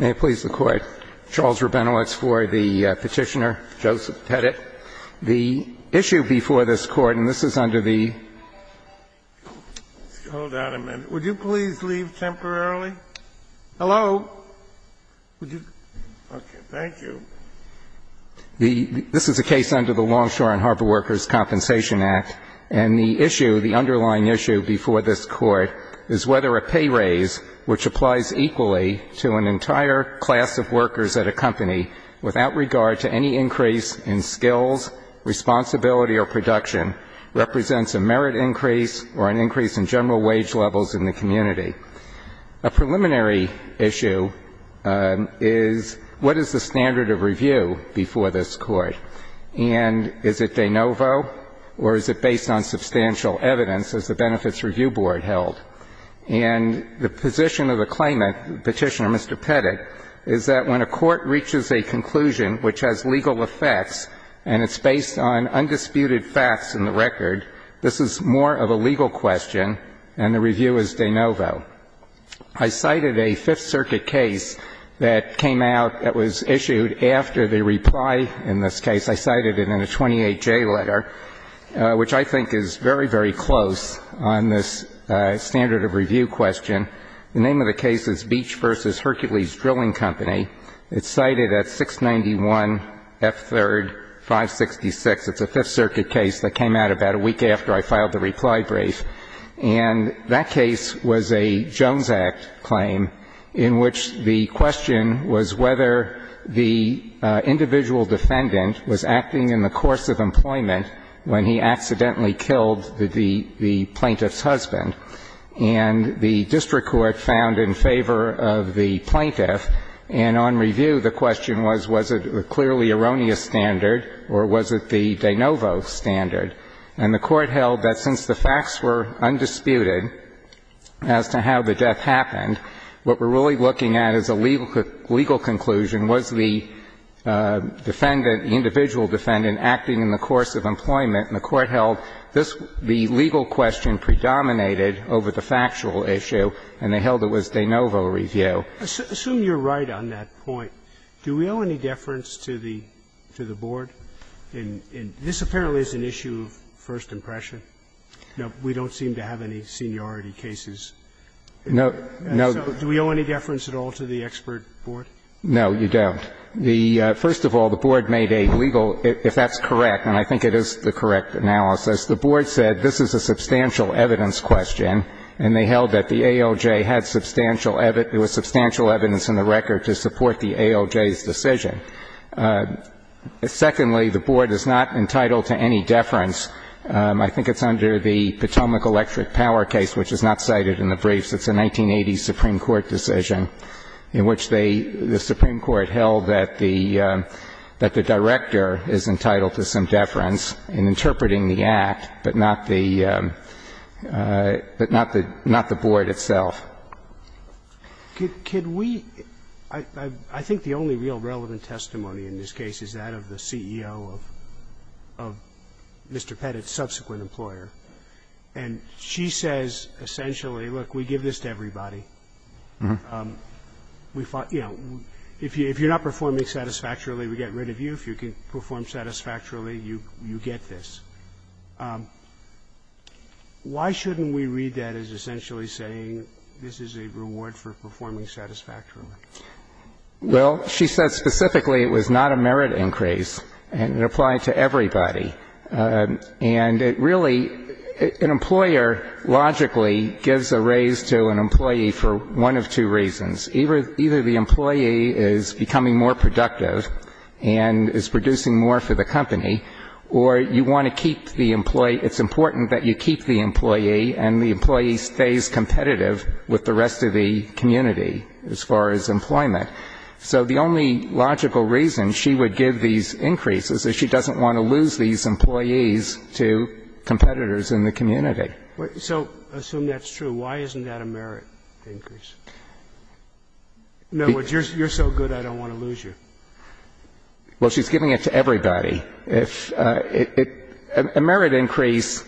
May it please the Court. Charles Rabinowitz for the petitioner, Joseph Petitt. The issue before this Court, and this is under the Hold on a minute. Would you please leave temporarily? Hello? Okay, thank you. This is a case under the Longshore and Harbor Workers' Compensation Act, and the underlying issue before this Court is whether a pay raise, which applies equally to an entire class of workers at a company without regard to any increase in skills, responsibility, or production, represents a merit increase or an increase in general wage levels in the community. A preliminary issue is what is the standard of review before this Court, and is it de novo or is it based on substantial evidence, as the Benefits Review Board held. And the position of the claimant, Petitioner Mr. Petitt, is that when a court reaches a conclusion which has legal effects and it's based on undisputed facts in the record, this is more of a legal question and the review is de novo. I cited a Fifth Circuit case that came out that was issued after the reply in this case. I cited it in a 28J letter, which I think is very, very close on this standard of review question. The name of the case is Beach v. Hercules Drilling Company. It's cited at 691 F. 3rd, 566. It's a Fifth Circuit case that came out about a week after I filed the reply brief. And that case was a Jones Act claim in which the question was whether the individual defendant was acting in the course of employment when he accidentally killed the plaintiff's husband. And the district court found in favor of the plaintiff. And on review, the question was, was it a clearly erroneous standard or was it the de novo standard? And the Court held that since the facts were undisputed as to how the death happened, what we're really looking at is a legal conclusion, was the defendant, the individual defendant, acting in the course of employment. And the Court held this, the legal question, predominated over the factual issue and they held it was de novo review. Sotomayor, assume you're right on that point. Do we owe any deference to the Board in this apparently is an issue of first impression? We don't seem to have any seniority cases. No, no. So do we owe any deference at all to the expert board? No, you don't. The first of all, the Board made a legal, if that's correct, and I think it is the correct analysis, the Board said this is a substantial evidence question and they held that the ALJ had substantial evidence, there was substantial evidence in the record to support the ALJ's decision. Secondly, the Board is not entitled to any deference. I think it's under the Potomac Electric Power case, which is not cited in the briefs. It's a 1980 Supreme Court decision in which they, the Supreme Court held that the director is entitled to some deference in interpreting the act, but not the Board itself. Could we, I think the only real relevant testimony in this case is that of the CEO of Mr. Pettit's subsequent employer, and she says essentially, look, we give this to everybody. We thought, you know, if you're not performing satisfactorily, we get rid of you. If you can perform satisfactorily, you get this. Why shouldn't we read that as essentially saying this is a reward for performing satisfactorily? Well, she said specifically it was not a merit increase, and it applied to everybody. And it really, an employer logically gives a raise to an employee for one of two reasons. Either the employee is becoming more productive and is producing more for the company, or you want to keep the employee, it's important that you keep the employee and the employee stays competitive with the rest of the community as far as employment. So the only logical reason she would give these increases is she doesn't want to lose these employees to competitors in the community. So assume that's true. Why isn't that a merit increase? In other words, you're so good, I don't want to lose you. Well, she's giving it to everybody. A merit increase,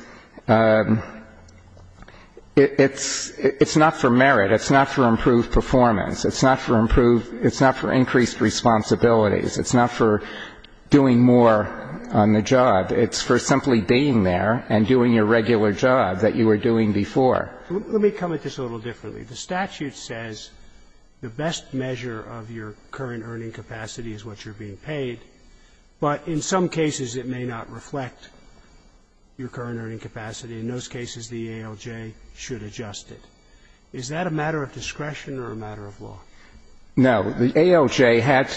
it's not for merit. It's not for improved performance. It's not for improved. It's not for increased responsibilities. It's not for doing more on the job. It's for simply being there and doing your regular job that you were doing before. Let me come at this a little differently. The statute says the best measure of your current earning capacity is what you're being paid, but in some cases it may not reflect your current earning capacity. In those cases, the ALJ should adjust it. Is that a matter of discretion or a matter of law? No. The ALJ had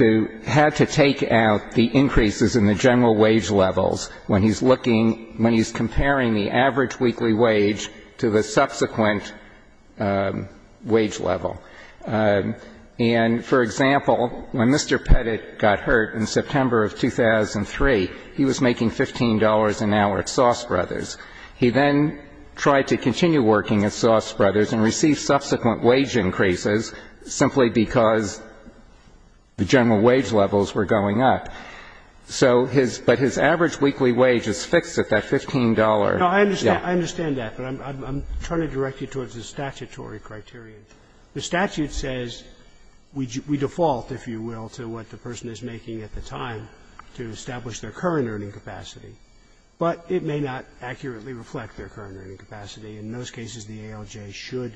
to take out the increases in the general wage levels when he's looking ñ when he's comparing the average weekly wage to the subsequent wage level. And, for example, when Mr. Pettit got hurt in September of 2003, he was making $15 an hour at Sauce Brothers. He then tried to continue working at Sauce Brothers and received subsequent wage increases simply because the general wage levels were going up. So his ñ but his average weekly wage is fixed at that $15. No, I understand that, but I'm trying to direct you towards the statutory criterion. The statute says we default, if you will, to what the person is making at the time to establish their current earning capacity. But it may not accurately reflect their current earning capacity. In those cases, the ALJ should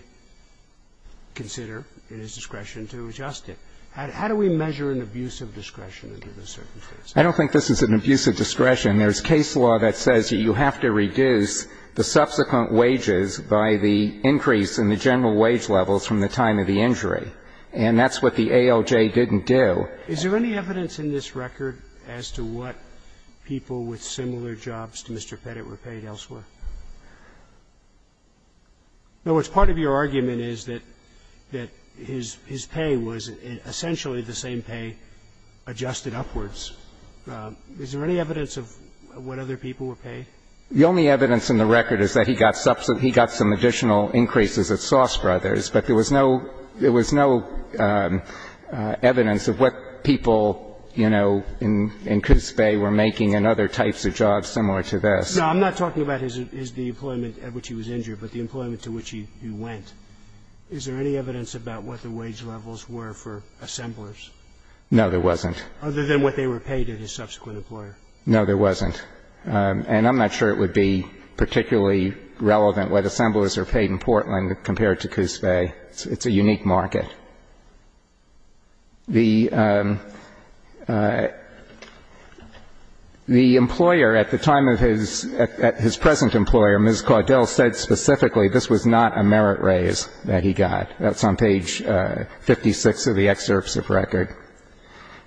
consider, at his discretion, to adjust it. How do we measure an abuse of discretion under this circumstance? I don't think this is an abuse of discretion. There's case law that says you have to reduce the subsequent wages by the increase in the general wage levels from the time of the injury. And that's what the ALJ didn't do. Is there any evidence in this record as to what people with similar jobs to Mr. Pettit were paid elsewhere? In other words, part of your argument is that ñ that his ñ his pay was essentially the same pay adjusted upwards. Is there any evidence of what other people were paid? The only evidence in the record is that he got ñ he got some additional increases at Sauce Brothers, but there was no ñ there was no evidence of what people, you know, in Coots Bay were making and other types of jobs similar to this. No, I'm not talking about his ñ his ñ the employment at which he was injured, but the employment to which he went. Is there any evidence about what the wage levels were for assemblers? No, there wasn't. Other than what they were paid at his subsequent employer. No, there wasn't. Nothing compared to Coots Bay. It's a unique market. The ñ the employer at the time of his ñ at his present employer, Ms. Caudill, said specifically this was not a merit raise that he got. That's on page 56 of the excerpts of record.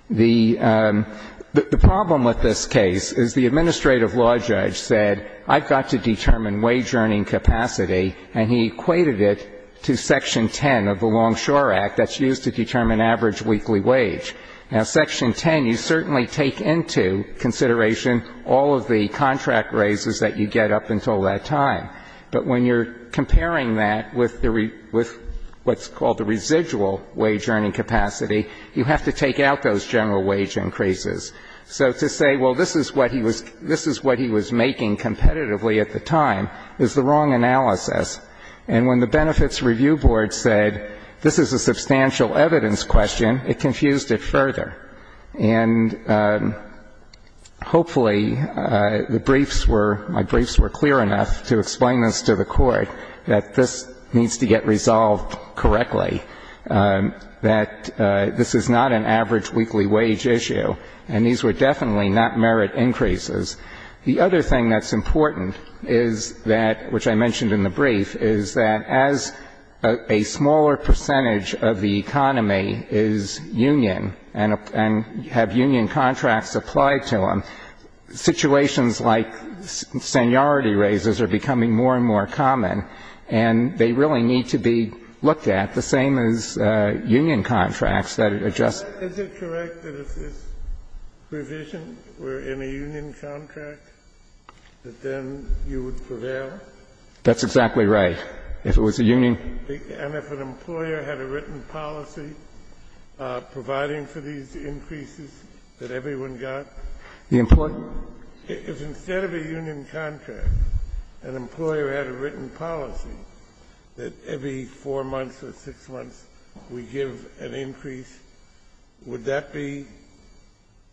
The ñ the problem with this case is the administrative law judge said, I've got to determine wage earning capacity, and he equated it to Section 10 of the Longshore Act that's used to determine average weekly wage. Now, Section 10, you certainly take into consideration all of the contract raises that you get up until that time. But when you're comparing that with the ñ with what's called the residual wage earning capacity, you have to take out those general wage increases. So to say, well, this is what he was ñ this is what he was making competitively at the time is the wrong analysis. And when the Benefits Review Board said this is a substantial evidence question, it confused it further. And hopefully the briefs were ñ my briefs were clear enough to explain this to the Court, that this needs to get resolved correctly, that this is not an average weekly wage issue, and these were definitely not merit increases. The other thing that's important is that ñ which I mentioned in the brief ñ is that as a smaller percentage of the economy is union and ñ and have union contracts applied to them, situations like seniority raises are becoming more and more common. And they really need to be looked at, the same as union contracts that are just ñ Is it correct that if this provision were in a union contract, that then you would prevail? That's exactly right. If it was a union ñ And if an employer had a written policy providing for these increases that everyone got? The ñ If instead of a union contract, an employer had a written policy that every 4 months or 6 months we give an increase, would that be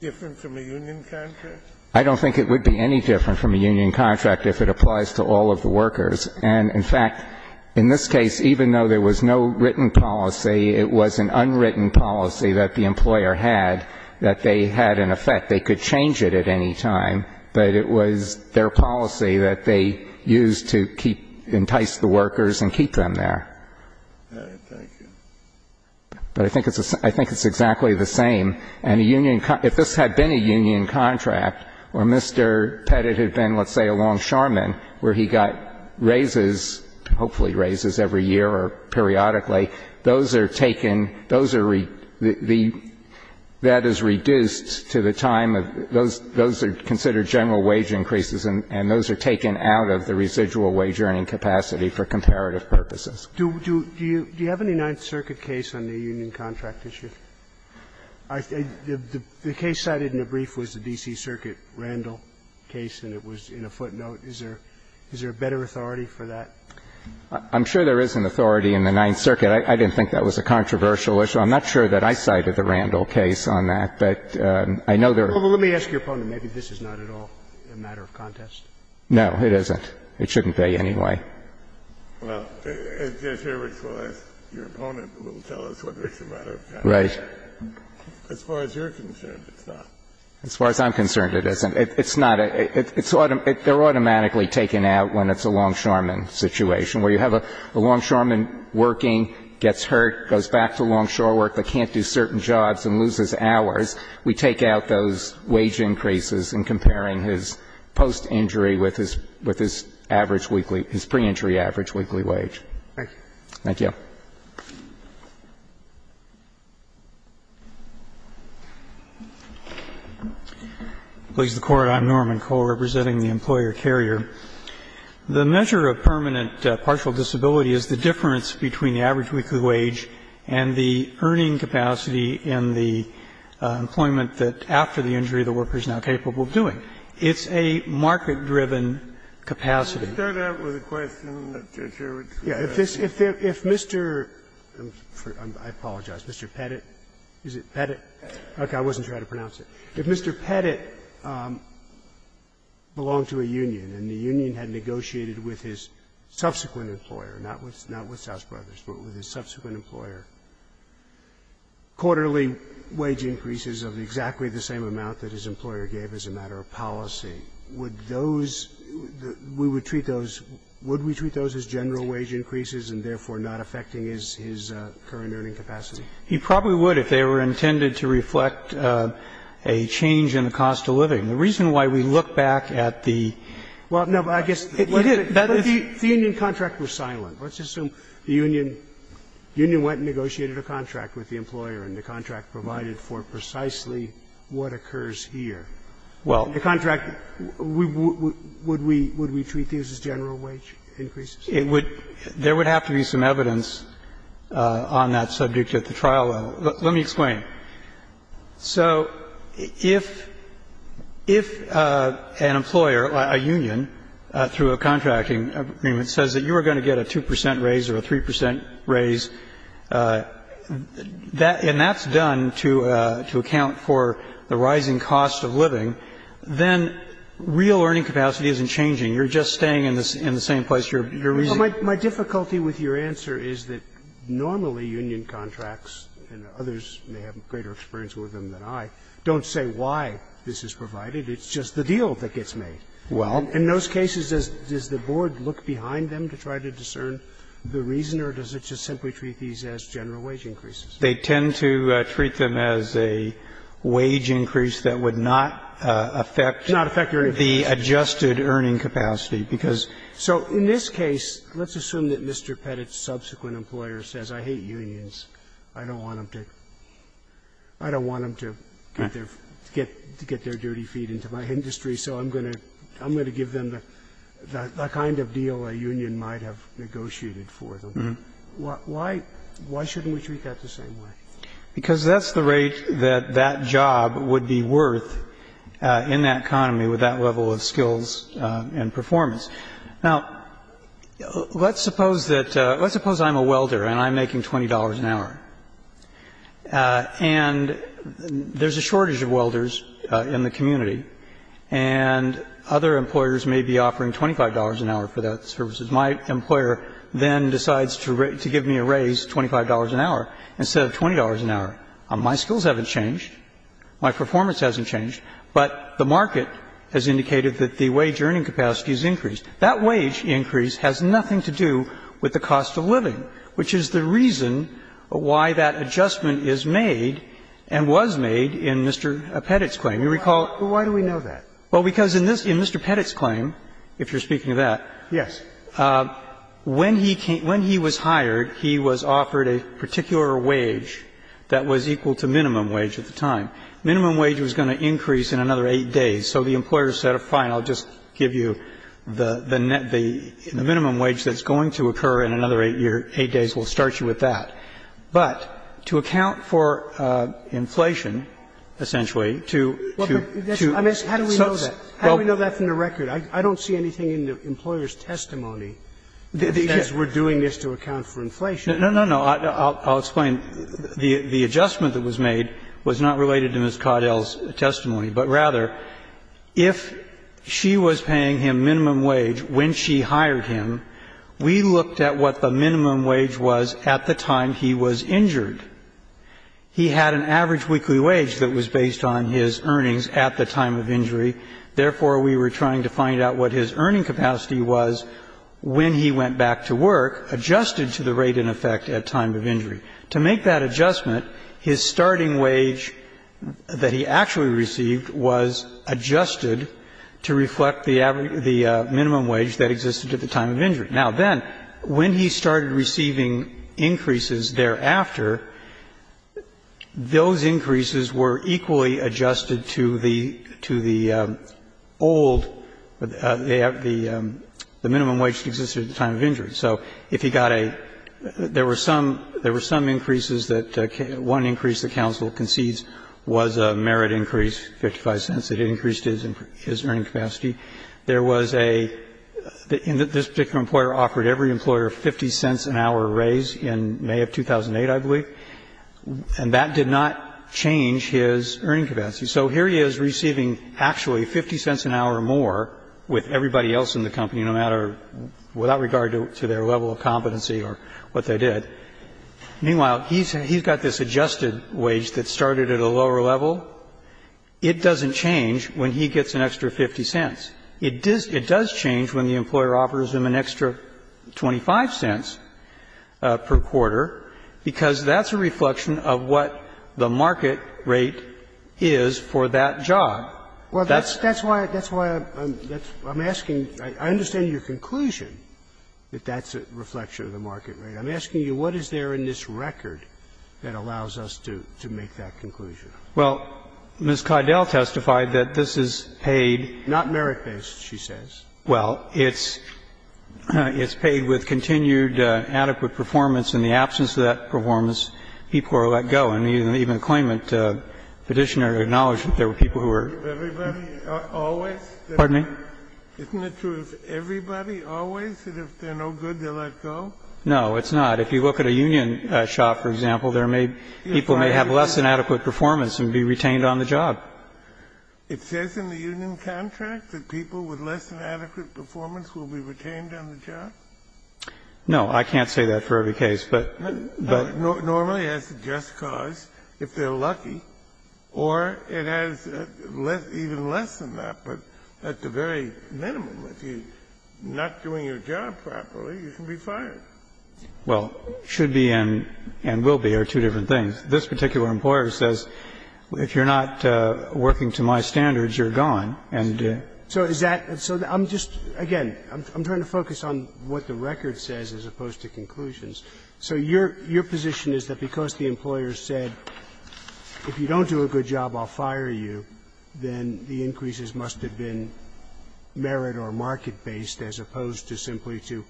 different from a union contract? I don't think it would be any different from a union contract if it applies to all of the workers. And, in fact, in this case, even though there was no written policy, it was an unwritten policy that the employer had that they had in effect. They could change it at any time, but it was their policy that they used to keep ñ entice the workers and keep them there. All right. Thank you. But I think it's ñ I think it's exactly the same. And a union ñ if this had been a union contract, where Mr. Pettit had been, let's say, a longshoreman, where he got raises, hopefully raises every year or periodically, those are taken ñ those are ñ the ñ that is reduced to the time of ñ those are considered general wage increases, and those are taken out of the residual wage-earning capacity for comparative purposes. Do you ñ do you have any Ninth Circuit case on the union contract issue? The case cited in the brief was the D.C. Circuit Randall case, and it was in a footnote. Is there ñ is there a better authority for that? I'm sure there is an authority in the Ninth Circuit. I didn't think that was a controversial issue. I'm not sure that I cited the Randall case on that, but I know there are ñ Well, let me ask your opponent. Maybe this is not at all a matter of contest. No, it isn't. It shouldn't pay anyway. Well, Judge Hurwitz will ask your opponent who will tell us whether it's a matter of contest. Right. As far as you're concerned, it's not. As far as I'm concerned, it isn't. It's not a ñ it's ñ they're automatically taken out when it's a longshoreman situation, where you have a longshoreman working, gets hurt, goes back to longshore work, but can't do certain jobs and loses hours. We take out those wage increases in comparing his post-injury with his ñ with his average weekly ñ his pre-injury average weekly wage. Thank you. Thank you. Please, the Court. I'm Norman Cole, representing the employer carrier. The measure of permanent partial disability is the difference between the average weekly wage and the earning capacity in the employment that, after the injury, the worker is now capable of doing. It's a market-driven capacity. To start out with a question, Judge Hurwitz. Yeah. If Mr. ñ I apologize. Mr. Pettit. Is it Pettit? Okay. I wasn't trying to pronounce it. If Mr. Pettit belonged to a union and the union had negotiated with his subsequent employer, not with ñ not with South Brothers, but with his subsequent employer quarterly wage increases of exactly the same amount that his employer gave as a matter of policy, would those ñ we would treat those ñ would we treat those as general wage increases and therefore not affecting his ñ his current earning capacity? He probably would if they were intended to reflect a change in the cost of living. The reason why we look back at the ñ Well, no, but I guess ñ He did. The union contract was silent. Let's assume the union ñ the union went and negotiated a contract with the employer and the contract provided for precisely what occurs here. Well ñ The contract ñ would we ñ would we treat these as general wage increases? It would ñ there would have to be some evidence on that subject at the trial level. Let me explain. So if ñ if an employer, a union, through a contracting agreement, says that you are going to get a 2 percent raise or a 3 percent raise, that ñ and that's done to ñ to account for the rising cost of living, then real earning capacity isn't changing. You're just staying in the ñ in the same place you're ñ you're using. So the difficulty with your answer is that normally union contracts, and others may have greater experience with them than I, don't say why this is provided. It's just the deal that gets made. Well ñ In those cases, does ñ does the board look behind them to try to discern the reason, or does it just simply treat these as general wage increases? They tend to treat them as a wage increase that would not affect ñ Would not affect your information. ñadjusted earning capacity, because ñ So in this case, let's assume that Mr. Pettit's subsequent employer says, I hate unions, I don't want them to ñ I don't want them to get their ñ get their dirty feet into my industry, so I'm going to ñ I'm going to give them the ñ the kind of deal a union might have negotiated for them. Why ñ why shouldn't we treat that the same way? Because that's the rate that that job would be worth in that economy with that level of skills and performance. Now, let's suppose that ñ let's suppose I'm a welder and I'm making $20 an hour, and there's a shortage of welders in the community, and other employers may be offering $25 an hour for those services. My employer then decides to give me a raise, $25 an hour, instead of $20 an hour. My skills haven't changed, my performance hasn't changed, but the market has indicated that the wage earning capacity has increased. That wage increase has nothing to do with the cost of living, which is the reason why that adjustment is made and was made in Mr. Pettit's claim. You recall ñ But why do we know that? Well, because in this ñ in Mr. Pettit's claim, if you're speaking of that ñ Yes. When he came ñ when he was hired, he was offered a particular wage that was equal to minimum wage at the time. Minimum wage was going to increase in another 8 days. So the employer said, fine, I'll just give you the net ñ the minimum wage that's going to occur in another 8 years ñ 8 days, we'll start you with that. But to account for inflation, essentially, to ñ to ñ I mean, how do we know that? How do we know that from the record? I don't see anything in the employer's testimony that says we're doing this to account for inflation. No, no, no. I'll explain. The adjustment that was made was not related to Ms. Caudill's testimony, but rather if she was paying him minimum wage when she hired him, we looked at what the minimum wage was at the time he was injured. He had an average weekly wage that was based on his earnings at the time of injury. Therefore, we were trying to find out what his earning capacity was when he went back to work, adjusted to the rate in effect at time of injury. To make that adjustment, his starting wage that he actually received was adjusted to reflect the average ñ the minimum wage that existed at the time of injury. Now, then, when he started receiving increases thereafter, those increases were equally adjusted to the ñ to the old ñ the minimum wage that existed at the time of injury. So if he got a ñ there were some ñ there were some increases that ñ one increase that counsel concedes was a merit increase, 55 cents. It increased his earning capacity. There was a ñ this particular employer offered every employer 50 cents an hour raise in May of 2008, I believe. And that did not change his earning capacity. So here he is receiving actually 50 cents an hour more with everybody else in the company. And heís actually getting an additional 50 cents per quarter to their level of competency or what they did. Meanwhile, heís ñ heís got this adjusted wage that started at a lower level. It doesnít change when he gets an extra 50 cents. It does change when the employer offers him an extra 25 cents per quarter, because that's a reflection of what the market rate is for that job. Well, thatís ñ thatís why ñ thatís why Iím ñ Iím asking ñ I understand your conclusion that thatís a reflection of the market rate. Iím asking you, what is there in this record that allows us to make that conclusion? Well, Ms. Caudill testified that this is paidó Not merit-based, she says. Well, itís ñ itís paid with continued adequate performance. In the absence of that performance, people are let go. And even the claimant petitioner acknowledged that there were people who wereó Isnít it true of everybody alwaysó Pardon me? Isnít it true of everybody always that if theyíre no good, theyíre let go? No, itís not. If you look at a union shop, for example, there may ñ people may have less than adequate performance and be retained on the job. It says in the union contract that people with less than adequate performance will be retained on the job? No. I canít say that for every case. Butó Normally, as a just cause, if theyíre lucky, or it has even less than that. But at the very minimum, if youíre not doing your job properly, you can be fired. Well, should be and will be are two different things. This particular employer says, if youíre not working to my standards, youíre gone. Andó So is that ñ so Iím just ñ again, Iím trying to focus on what the record says as opposed to conclusions. So your position is that because the employer said, if you donít do a good job, Iíll fire you, then the increases must have been merit or market-based as opposed to simply to ñ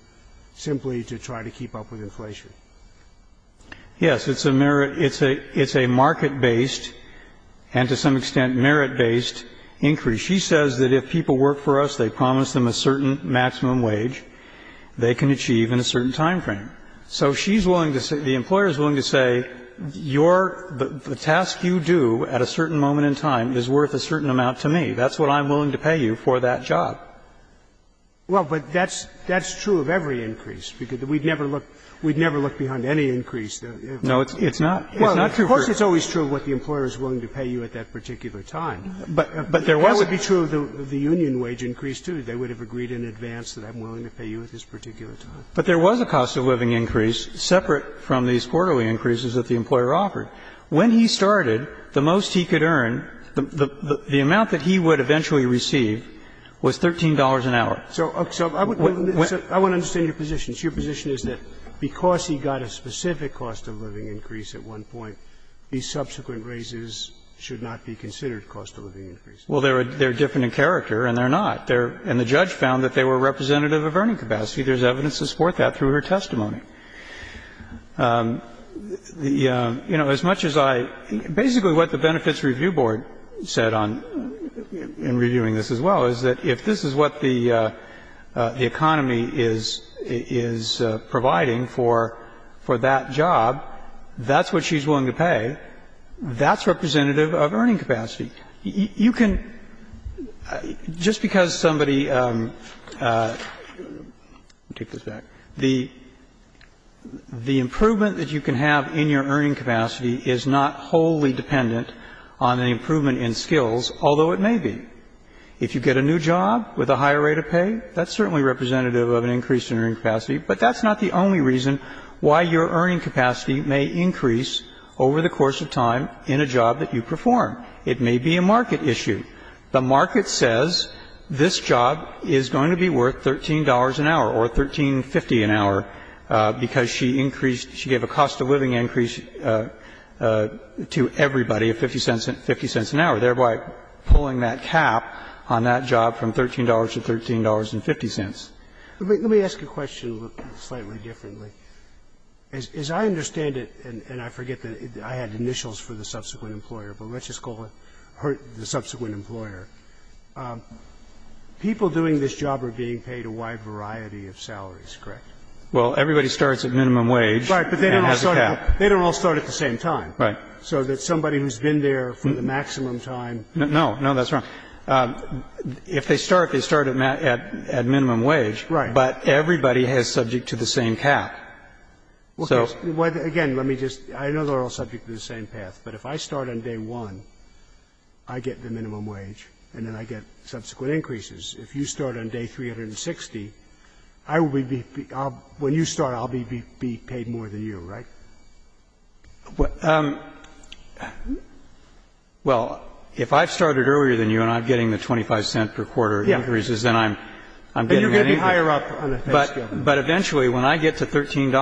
simply to try to keep up with inflation? Yes. Itís a merit ñ itís a market-based and, to some extent, merit-based increase. She says that if people work for us, they promise them a certain maximum wage they can achieve in a certain time frame. So sheís willing to say ñ the employerís willing to say, your ñ the task you do at a certain moment in time is worth a certain amount to me. Thatís what Iím willing to pay you for that job. Well, but thatís ñ thatís true of every increase, because weíd never look ñ weíd never look behind any increase. No, itís not. Itís not true foró Well, of course itís always true of what the employer is willing to pay you at that particular time. But there wasó That would be true of the union wage increase, too. They would have agreed in advance that Iím willing to pay you at this particular time. But there was a cost-of-living increase separate from these quarterly increases that the employer offered. When he started, the most he could earn, the amount that he would eventually receive, was $13 an hour. So I would understand your position. Your position is that because he got a specific cost-of-living increase at one point, these subsequent raises should not be considered cost-of-living increases. Well, theyíre different in character, and theyíre not. And the judge found that they were representative of earning capacity. Thereís evidence to support that through her testimony. You know, as much as Ióbasically what the Benefits Review Board said onóin reviewing this as wellóis that if this is what the economy is providing for that job, thatís what sheís willing to pay. Thatís representative of earning capacity. You canójust because somebodyóIíll take this back. The improvement that you can have in your earning capacity is not wholly dependent on an improvement in skills, although it may be. If you get a new job with a higher rate of pay, thatís certainly representative of an increase in earning capacity. But thatís not the only reason why your earning capacity may increase over the course of time in a job that you perform. It may be a market issue. The market says this job is going to be worth $13 an hour or $13.50 an hour, because she increasedóshe gave a cost-of-living increase to everybody of $0.50 an hour, thereby pulling that cap on that job from $13 to $13.50. Let me ask you a question slightly differently. As I understand itóand I forget that I had initials for the subsequent employer, but letís just call her the subsequent employerópeople doing this job are being paid a wide variety of salaries, correct? Well, everybody starts at minimum wage and has a cap. Right, but they donít all start at the same time. Right. So that somebody whoís been there for the maximum timeó No. No, thatís wrong. If they start, they start at minimum wage. Right. But everybody is subject to the same cap. Soó Again, let me justóI know theyíre all subject to the same path, but if I start on day 1, I get the minimum wage, and then I get subsequent increases. If you start on day 360, I will beówhen you start, Iíll be paid more than you, right? Well, if I started earlier than you and Iím getting the $0.25 per quarter increases, then Iím getting anything. But youíre going to be higher up on the pay scale. But eventually, when I get to $13.00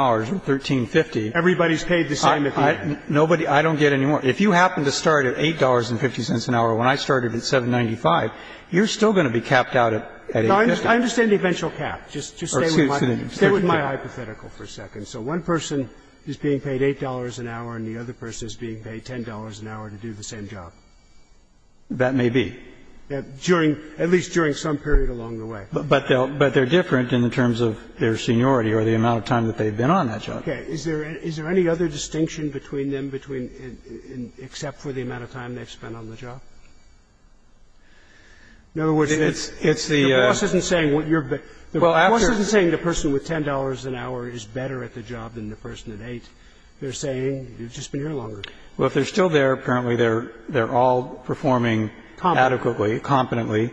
or $13.50ó Everybodyís paid the same at the end. NobodyóI donít get any more. If you happen to start at $8.50 an hour when I started at $7.95, youíre still going to be capped out at $8.50. I understand the eventual cap. Just stay with my hypothetical for a second. So one person is being paid $8.00 an hour and the other person is being paid $10.00 an hour to do the same job. That may be. Duringóat least during some period along the way. But theyíre different in the terms of their seniority or the amount of time that theyíve been on that job. Okay. Is there any other distinction between them betweenóexcept for the amount of time theyíve spent on the job? In other words, itís theó The boss isnít saying what youíreó Well, afteró The boss isnít saying the person with $10.00 an hour is better at the job than the person at $8.00. Theyíre saying youíve just been here longer. Well, if theyíre still there, apparently theyíre all performing adequately, competently.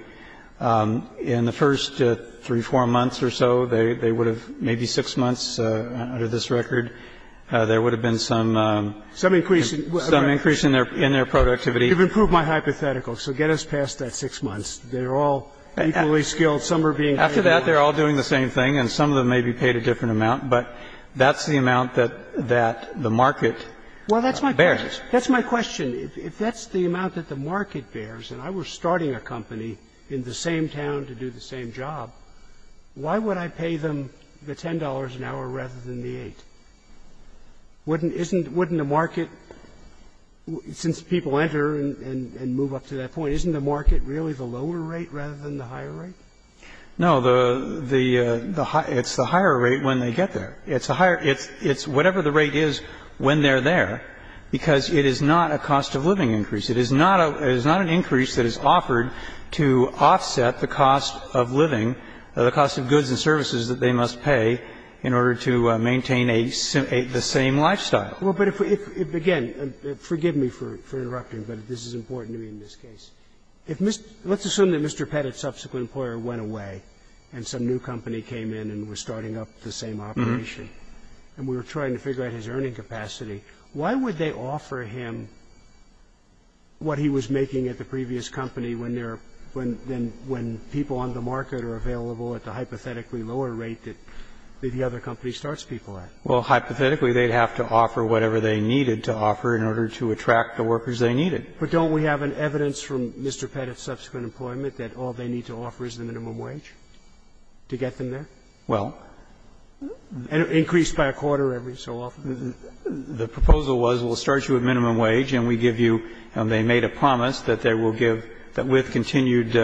In the first three, four months or so, they would haveómaybe six months, under this record, there would have been someó Some increase inó Some increase in their productivity. Youíve improved my hypothetical. So get us past that six months. Theyíre all equally skilled. Some are being paid more. After that, theyíre all doing the same thing and some of them may be paid a different amount. But thatís the amount that the market bears. Well, thatís my question. Thatís my question. If thatís the amount that the market bearsóand I was starting a company and I was working in the same town to do the same job, why would I pay them the $10.00 an hour rather than the $8.00? Wouldnítóisnítówouldnít the marketósince people enter and move up to that point, isnít the market really the lower rate rather than the higher rate? No, theótheóitís the higher rate when they get there. Itís the higheróitís whatever the rate is when theyíre there, because it is not a cost-of-living increase. It is not aóit is not an increase that is offered to offset the cost of living, the cost of goods and services that they must pay in order to maintain a simóthe same lifestyle. Well, but if weóif, again, forgive me for interrupting, but this is important to me in this case. If Mr.óletís assume that Mr. Pettitís subsequent employer went away and some new company came in and was starting up the same operation, and we were trying to figure out his earning capacity, why would they offer him what he was making at the previous company when there areówhen people on the market are available at the hypothetically lower rate that the other company starts people at? Well, hypothetically, theyíd have to offer whatever they needed to offer in order to attract the workers they needed. But donít we have an evidence from Mr. Pettitís subsequent employment that all they need to offer is the minimum wage to get them there? Welló And increased by a quarter every so often. The proposal was, weíll start you at minimum wage and we give youóand they made a promise that they will giveóthat with continued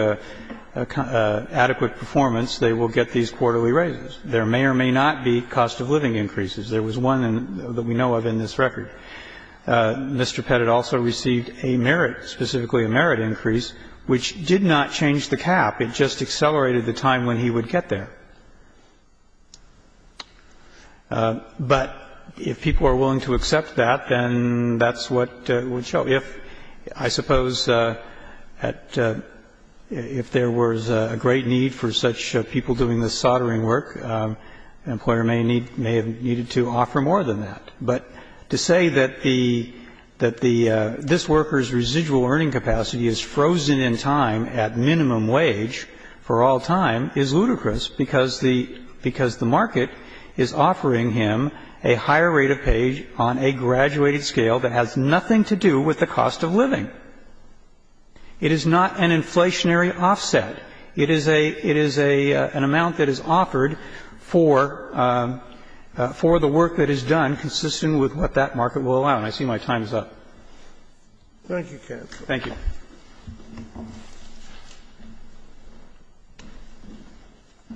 adequate performance, they will get these quarterly raises. There may or may not be cost of living increases. There was one that we know of in this record. Mr. Pettit also received a merit, specifically a merit increase, which did not change the cap. It just accelerated the time when he would get there. But if people are willing to accept that, then thatís what would show. IfóI suppose atóif there was a great need for such people doing this soldering work, an employer may needómay have needed to offer more than that. But to say that theóthat theóthis workerís residual earning capacity is frozen in time at minimum wage for all time is ludicrous, because the minimum wage that he has is frozen in time, because the market is offering him a higher rate of pay on a graduated scale that has nothing to do with the cost of living. It is not an inflationary offset. It is aóit is an amount that is offered for the work that is done, consistent with what that market will allow. And I see my time is up. Thank you, counsel. Thank you.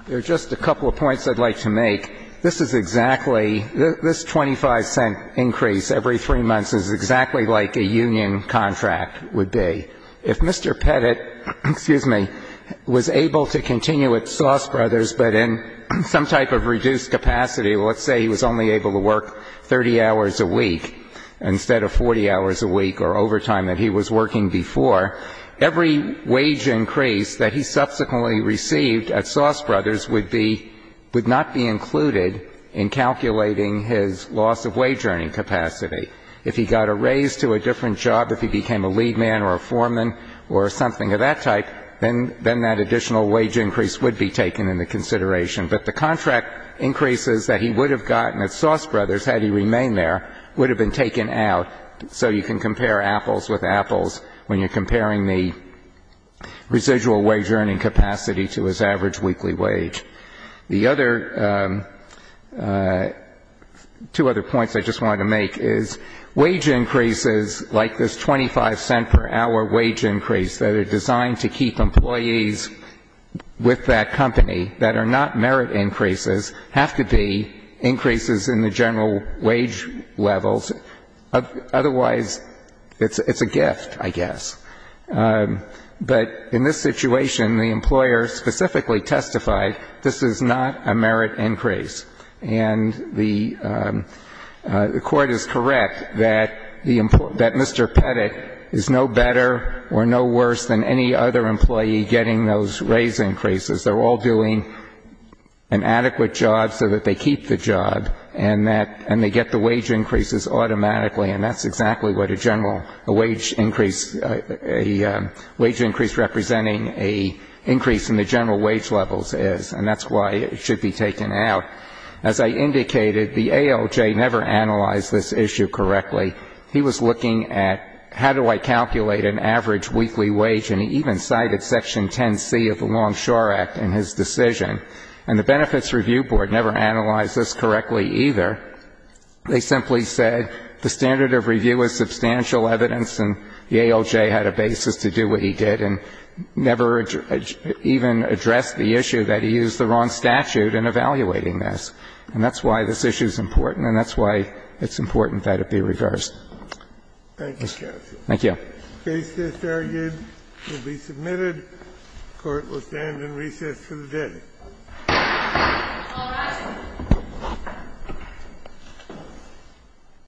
There are just a couple of points Iíd like to make. This is exactlyóthis $0.25 increase every 3 months is exactly like a union contract would be. If Mr. Pettitóexcuse meówas able to continue at Sauce Brothers, but in some type of reduced capacityóletís say he was only able to work 30 hours a week instead of 40 hours a week or overtime that he was working beforeóevery wage increase that he subsequently received at Sauce Brothers would beówould not be included in calculating his loss of wage earning capacity. If he got a raise to a different job, if he became a lead man or a foreman or something of that type, then that additional wage increase would be taken into consideration. But the contract increases that he would have gotten at Sauce Brothers, had he remained there, would have been taken out. So you can compare apples with apples when youíre comparing the residual wage earning capacity to his average weekly wage. The otherótwo other points I just wanted to make is wage increases like this $0.25 per hour wage increase that are designed to keep employees with that company that are not merit increases have to be increases in the general wage levels. Otherwise, itís a gift, I guess. But in this situation, the employer specifically testified this is not a merit increase. And the Court is correct that theóthat Mr. Pettit is no better or no worse than any other employee getting those raise increases. Theyíre all doing an adequate job so that they keep the job, and thatóand they get the wage increases automatically. And thatís exactly what a general wage increaseóa wage increase representing an increase in the general wage levels is. And thatís why it should be taken out. As I indicated, the ALJ never analyzed this issue correctly. He was looking at how do I calculate an average weekly wage? And he even cited Section 10C of the Longshore Act in his decision. And the Benefits Review Board never analyzed this correctly either. They simply said the standard of review is substantial evidence and the ALJ had a basis to do what he did, and never even addressed the issue that he used the wrong statute in evaluating this. And thatís why this issue is important, and thatís why itís important that it be reversed. Thank you, counsel. Thank you. The case is argued and will be submitted. The Court will stand in recess for the day.